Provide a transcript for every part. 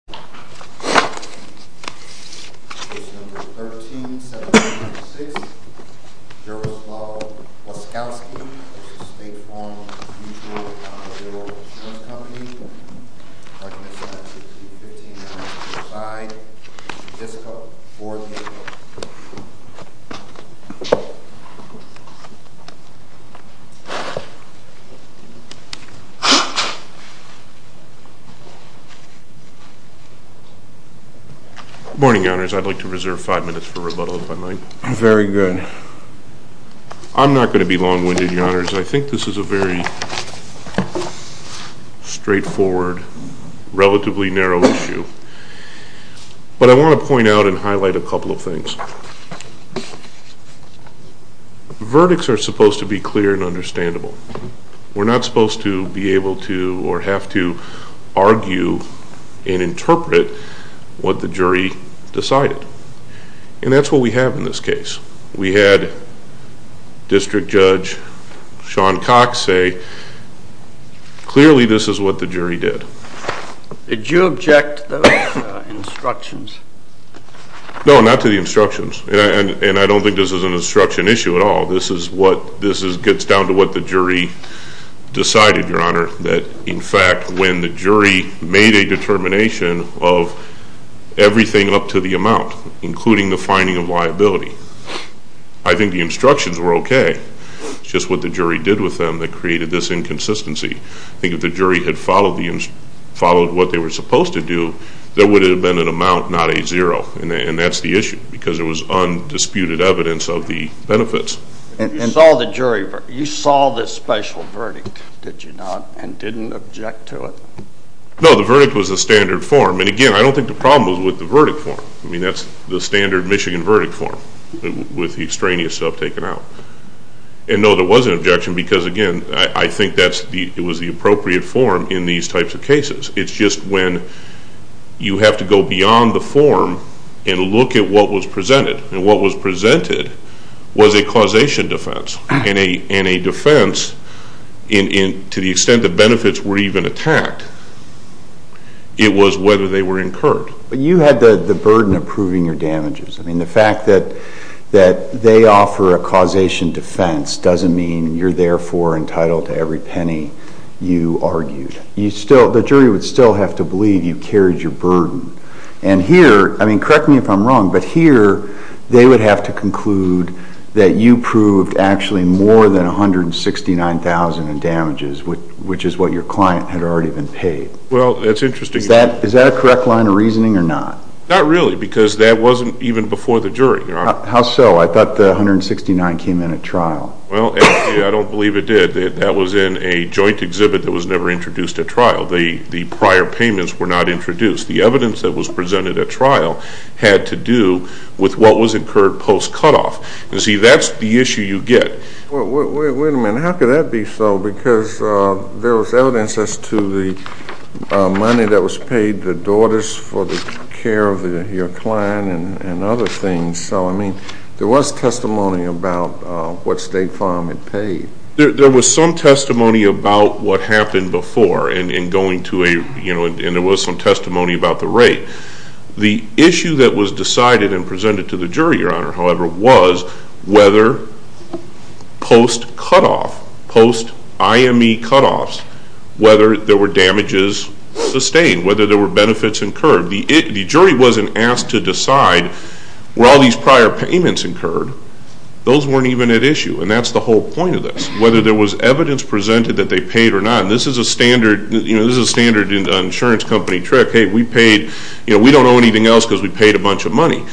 mutual account of the orogo insurance company recommendation 19-15 9265 Mr. Dysko org tavalla, Waskowski v. State Farm mutual account of the orogo insurance company 752.15 9265 Mr. Dysko or the DoA Good morning, Your Honors. I'd like to reserve five minutes for rebuttal, if I might. Very good. I'm not going to be long-winded, Your Honors. I think this is a very straightforward, relatively narrow issue, but I want to point out and highlight a couple of things. Verdicts are supposed to be clear and understandable. We're not supposed to be able to or have to argue and interpret what the jury decided, and that's what we have in this case. We had District Judge Sean Cox say, clearly this is what the jury did. Did you object to those instructions? No, not to the instructions, and I don't think this is an instruction issue at all. This is what this is gets down to what the jury decided, Your Honor, that in fact when the jury made a determination of everything up to the amount, including the finding of liability, I think the instructions were okay. It's just what the jury did with them that created this inconsistency. I think if the jury had followed what they were supposed to do, there would have been an amount, not a zero, and that's the issue because there was undisputed evidence of the benefits. And you saw the jury, you saw this special verdict, did you not, and didn't object to it? No, the verdict was the standard form, and again I don't think the problem was with the verdict form. I mean that's the standard Michigan verdict form with the extraneous stuff taken out. And no, there was an objection because, again, I think it was the appropriate form in these types of cases. It's just when you have to go beyond the form and look at what was presented, and what was presented was a causation defense, and a defense, to the extent the benefits were even attacked, it was whether they were incurred. But you had the burden of proving your damages. I mean a causation defense doesn't mean you're therefore entitled to every penny you argued. You still, the jury would still have to believe you carried your burden. And here, I mean correct me if I'm wrong, but here they would have to conclude that you proved actually more than $169,000 in damages, which is what your client had already been paid. Well, that's interesting. Is that a correct line of reasoning or not? Not really because that wasn't even before the jury. How so? I mean $169,000 came in at trial. Well, I don't believe it did. That was in a joint exhibit that was never introduced at trial. The prior payments were not introduced. The evidence that was presented at trial had to do with what was incurred post-cutoff. You see, that's the issue you get. Wait a minute. How could that be so? Because there was evidence as to the money that was paid, the daughters for the care of your client and other things. So, I mean, there was testimony about what State Farm had paid. There was some testimony about what happened before in going to a, you know, and there was some testimony about the rate. The issue that was decided and presented to the jury, Your Honor, however, was whether post-cutoff, post-IME cutoffs, whether there were damages sustained, whether there were benefits incurred. The jury wasn't asked to decide where all these prior payments incurred. Those weren't even at issue. And that's the whole point of this, whether there was evidence presented that they paid or not. And this is a standard, you know, this is a standard insurance company trick. Hey, we paid, you know, we don't owe anything else because we paid a bunch of money.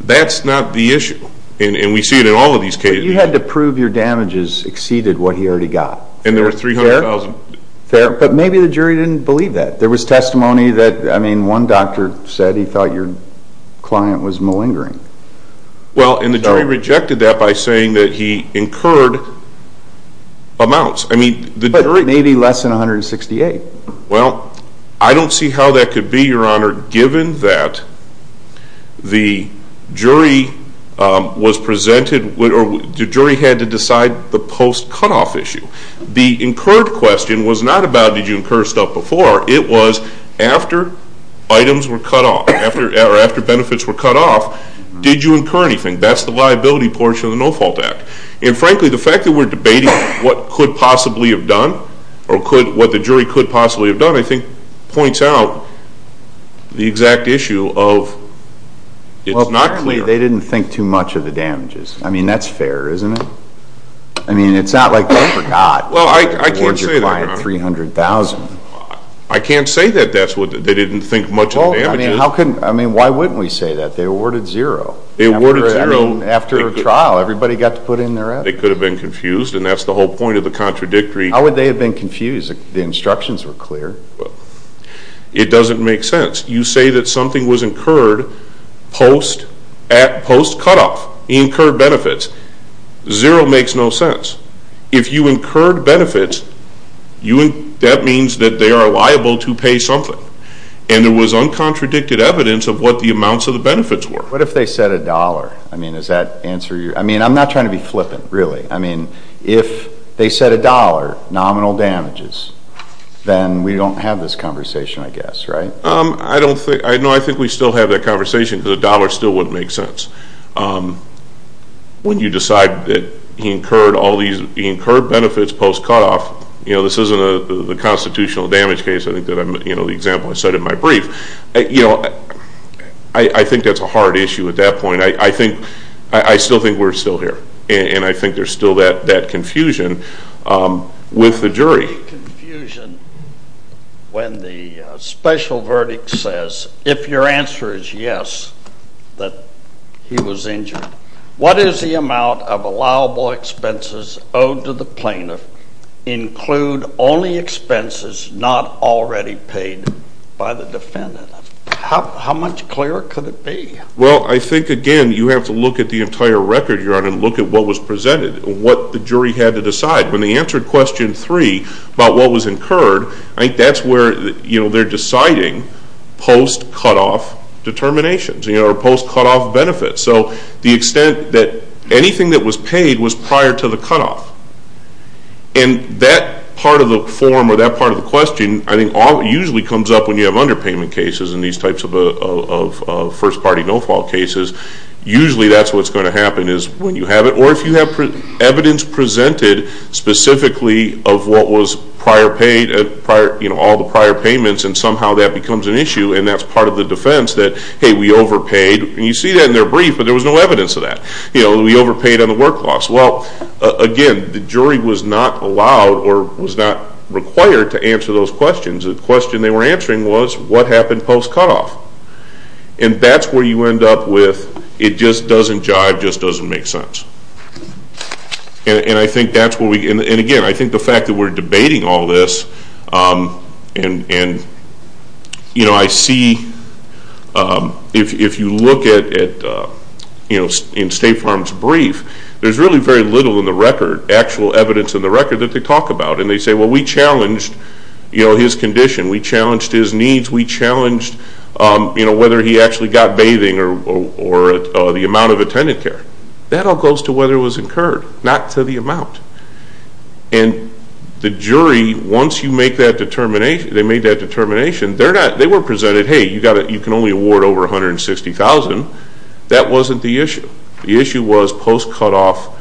That's not the issue. And we see it in all of these cases. But you had to prove your damages exceeded what he already got. And there were $300,000. Fair. But maybe the jury didn't believe that. There was no evidence that the client was malingering. Well, and the jury rejected that by saying that he incurred amounts. I mean, the jury. But maybe less than $168,000. Well, I don't see how that could be, Your Honor, given that the jury was presented, or the jury had to decide the post-cutoff issue. The incurred question was not about did you incur stuff before? It was after items were cut off. Did you incur anything? That's the liability portion of the No-Fault Act. And frankly, the fact that we're debating what could possibly have done or what the jury could possibly have done, I think, points out the exact issue of it's not clear. Well, apparently, they didn't think too much of the damages. I mean, that's fair, isn't it? I mean, it's not like they forgot. Well, I can't say that, Your Honor. Or your client $300,000. I can't say that they didn't think much of the damages. Well, I mean, why wouldn't we say that? They awarded zero. They awarded zero. I mean, after a trial, everybody got to put in their evidence. They could have been confused, and that's the whole point of the contradictory. How would they have been confused if the instructions were clear? Well, it doesn't make sense. You say that something was incurred post-cutoff. He incurred benefits. Zero makes no sense. If you are liable to pay something. And there was uncontradicted evidence of what the amounts of the benefits were. What if they said $1? I mean, is that answer your? I mean, I'm not trying to be flippant, really. I mean, if they said $1, nominal damages, then we don't have this conversation, I guess, right? I don't think. No, I think we still have that conversation because $1 still wouldn't make sense. When you decide that he incurred all these, he incurred benefits post-cutoff, you know, this isn't the constitutional damage case. I think that, you know, the example I set in my brief, you know, I think that's a hard issue at that point. I think, I still think we're still here, and I think there's still that confusion with the jury. The confusion when the special verdict says, if your answer is yes, that he was injured, what is the amount of allowable expenses owed to the plaintiff include only expenses not already paid by the defendant? How much clearer could it be? Well, I think, again, you have to look at the entire record you're on and look at what was presented, what the jury had to decide. When they answered question three about what was incurred, I think that's where, you know, they're deciding post-cutoff determinations, you know, or post-cutoff benefits. So the extent that anything that was paid was prior to the cutoff. And that part of the form or that part of the question, I think, usually comes up when you have underpayment cases in these types of first-party no-fault cases. Usually that's what's going to happen is when you have it, or if you have evidence presented specifically of what was prior paid, you know, all the prior payments, and somehow that becomes an issue, and that's part of the defense that, hey, we overpaid. And you see that in their brief, but there was no evidence of that. You know, we overpaid on the work loss. Well, again, the jury was not allowed or was not required to answer those questions. The question they were answering was, what happened post-cutoff? And that's where you end up with, it just doesn't jive, just doesn't make sense. And I think that's where we, and again, I think the fact that we're debating all this, and, you know, I see, if you look at, you know, in State Farm's brief, there's really very little in the record, actual evidence in the record, that they talk about. And they say, well, we challenged, you know, his condition, we challenged his needs, we challenged, you know, whether he actually got bathing or the amount of attendant care. That all goes to whether it was incurred, not to the amount. And the jury, once you make that determination, they made that determination. They were presented, hey, you can only award over 160,000. That wasn't the issue. The issue was post-cutoff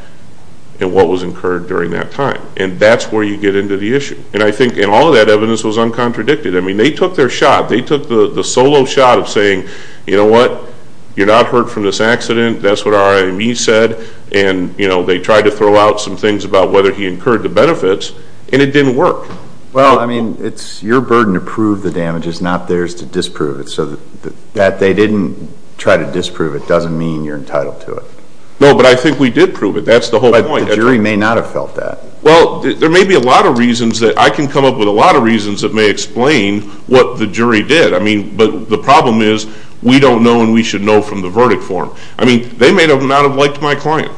and what was incurred during that time. And that's where you get into the issue. And I think, and all of that evidence was uncontradicted. I mean, they took their shot. They took the solo shot of saying, you know what, you're not hurt from this accident. That's what our RME said. And, you know, they tried to throw out some things about whether he incurred the benefits, and it didn't work. Well, I mean, it's your burden to prove the damage. It's not theirs to disprove it. So that they didn't try to disprove it doesn't mean you're entitled to it. No, but I think we did prove it. That's the whole point. But the jury may not have felt that. Well, there may be a lot of reasons that, I can come up with a lot of reasons that may explain what the jury did. I mean, but the problem is we don't know and we should know from the verdict form. I mean, they may not have liked my client.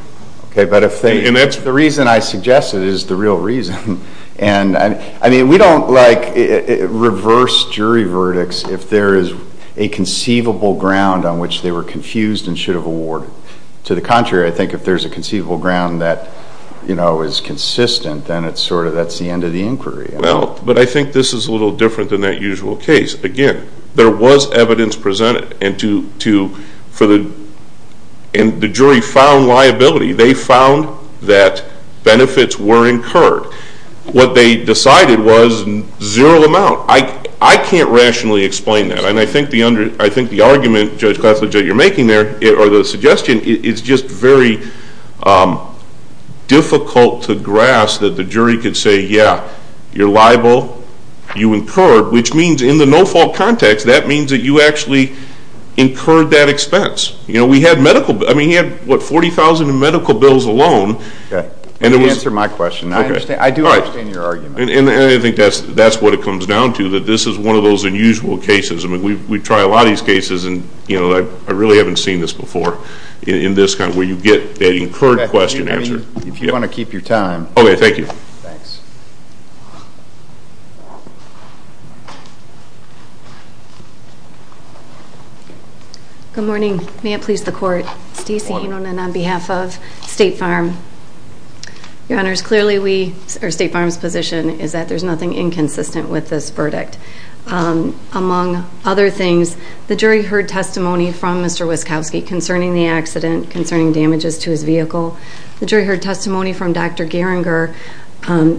Okay, but the reason I suggested is the real reason. And, I mean, we don't like reverse jury verdicts if there is a conceivable ground on which they were confused and should have awarded. To the contrary, I think if there's a conceivable ground that, you know, is consistent, then it's sort of that's the end of the inquiry. Well, but I think this is a little different than that usual case. Again, there was evidence presented and the jury found liability. They found that benefits were incurred. What they decided was zero amount. I can't rationally explain that. And I think the argument, Judge Klessler, that you're making there or the suggestion is just very difficult to grasp that the jury could say, yeah, you're liable, you incurred, which means in the no-fault context, that means that you actually incurred that expense. You know, we had medical, I mean, we had, what, 40,000 in medical bills alone. Okay. Let me answer my question. I understand. I do understand your argument. And I think that's what it comes down to, that this is one of those unusual cases. I mean, we try a lot of these cases and, you know, I really haven't seen this before in this kind where you get that incurred question answered. If you want to keep your time. Okay, thank you. Thanks. Good morning. May it please the court, Stacey Enonen on behalf of State Farm. Your Honors, clearly we, or State Farm's position is that there's nothing inconsistent with this verdict. Among other things, the jury heard testimony from Mr. Wyskowski concerning the accident, concerning damages to his vehicle. The jury heard testimony from Dr. Geringer,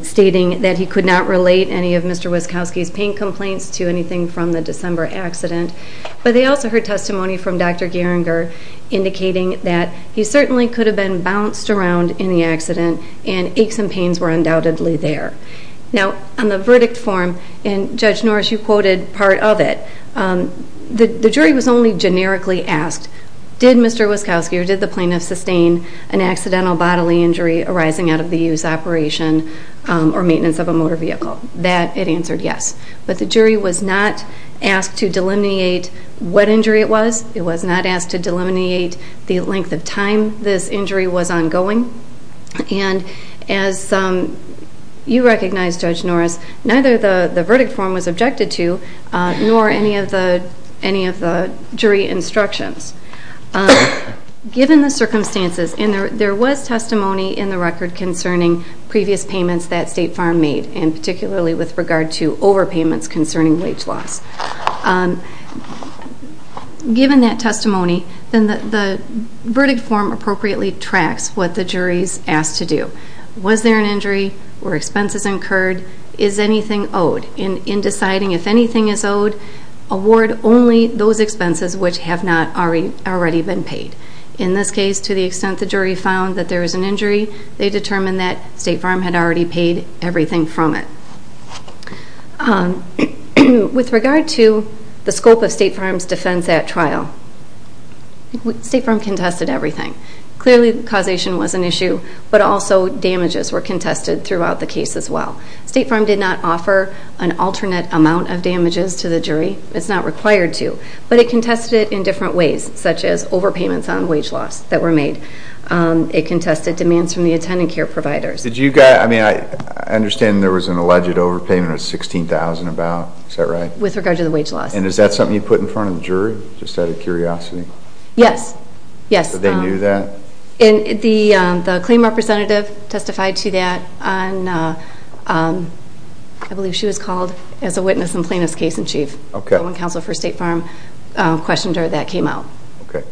stating that he could not relate any of Mr. Wyskowski's pain complaints to anything from the December accident. But they also heard testimony from Dr. Geringer, indicating that he certainly could have been bounced around in the accident and aches and pains were undoubtedly there. Now, on the verdict form, and Judge Norris, you quoted part of it, the jury was only generically asked, did Mr. Wyskowski or did the plaintiff sustain an accidental bodily injury arising out of the use operation or maintenance of a motor vehicle? That, it answered yes. But the jury was not asked to delineate what injury it was. It was not asked to delineate the length of time this injury was ongoing. And as you recognize, Judge Norris, neither the verdict form was objected to, nor any of the jury instructions. Given the circumstances, and there was testimony in the record concerning previous payments that State Farm made, and particularly with regard to overpayments concerning wage loss. Given that testimony, then the verdict form appropriately tracks what the jury's asked to do. Was there an injury? Were expenses incurred? Is anything owed? In deciding if anything is owed, award only those expenses which have not already been paid. In this case, to the extent the jury found that there was an injury, they determined that State Farm had already paid everything from it. With regard to the scope of State Farm's defense at trial, State Farm contested everything. Clearly, causation was an issue, but also damages were contested throughout the case as well. State Farm did not offer an alternate amount of damages to the jury. It's not required to, but it contested it in different ways, such as overpayments on wage loss that were made. It contested demands from the attending care providers. Did you guys... I understand there was an alleged overpayment of $16,000 about, is that right? With regard to the wage loss. And is that something you put in front of the jury, just out of curiosity? Yes. Yes. But they knew that? And the claim representative testified to that on... I believe she was called as a witness in Plano's case in chief. Okay. When counsel for State Farm questioned her, that came out.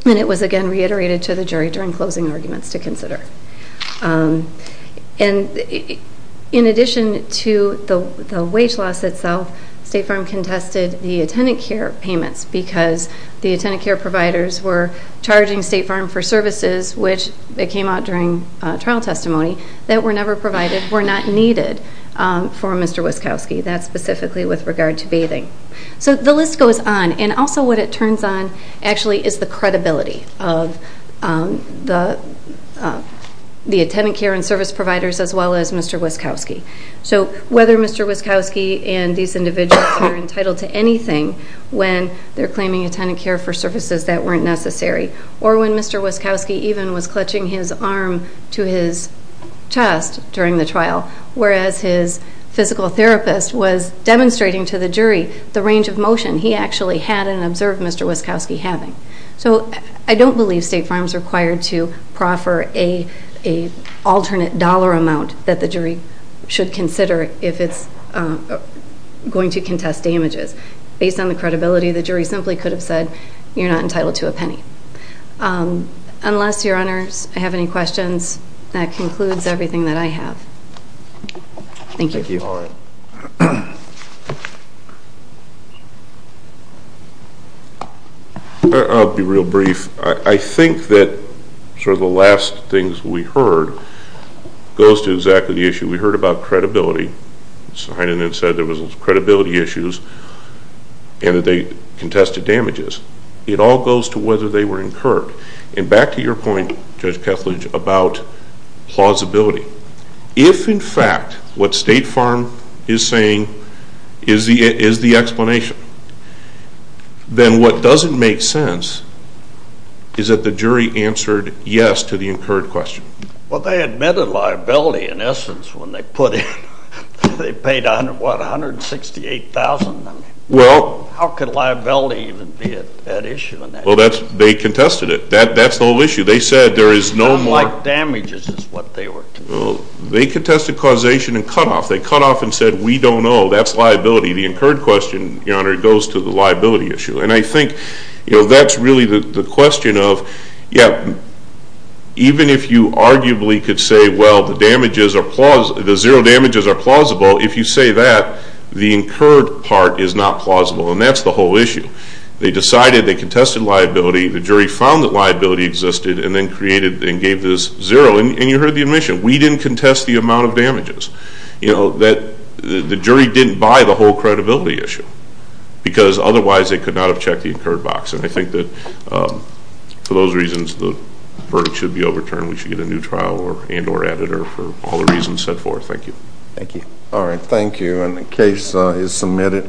And it was again reiterated to the jury during closing arguments to consider. And in addition to the wage loss itself, State Farm contested the attendant care payments because the attendant care providers were charging State Farm for services, which they came out during trial testimony, that were never provided, were not needed for Mr. Wyskowski. That's specifically with regard to bathing. So the list goes on. And also what it turns on actually is the credibility of the attendant care and service providers, as well as Mr. Wyskowski. So whether Mr. Wyskowski and these individuals were entitled to anything when they're claiming attendant care for services that weren't necessary, or when Mr. Wyskowski even was clutching his arm to his chest during the trial, whereas his physical therapist was demonstrating to the jury the range of motion he actually had and observed Mr. Wyskowski having. So I don't believe State Farm's required to proffer a alternate dollar amount that the jury should consider if it's going to contest damages. Based on the credibility, the jury simply could have said, you're not entitled to a penny. Unless your honors have any questions, that concludes everything that I have. Thank you. Thank you, Allie. I'll be real brief. I think that sort of the last things we heard goes to exactly the issue. We heard about credibility. Mr. Heinen had said there was credibility issues and that they contested damages. It all goes to whether they were incurred. And back to your point, Judge Kethledge, about plausibility. If, in fact, what State Farm is saying is the explanation, then what doesn't make sense is that the jury answered yes to the incurred question. Well, they admitted liability, in essence, when they put it. They paid, what, $168,000? Well... How could liability even be at issue in that? Well, they contested it. That's the whole issue. They said there is no more... Unlike damages is what they were... Well, they contested causation and cut off. They cut off and said, we don't know, that's liability. The incurred question, your honor, goes to the liability issue. And I think that's really the question of, yeah, even if you arguably could say, well, the damages are plausible, the zero damages are plausible, if you say that, the incurred part is not plausible. And that's the whole issue. They decided, they contested liability, the jury found that liability existed and then created and gave this zero. And you heard the admission, we didn't contest the amount of damages. The jury didn't buy the whole credibility issue, because otherwise they could not have checked the incurred box. And I think that for those reasons, the verdict should be overturned. We should get a new trial and or editor for all the reasons set forth. Thank you. Thank you. Alright, thank you. And the case is submitted.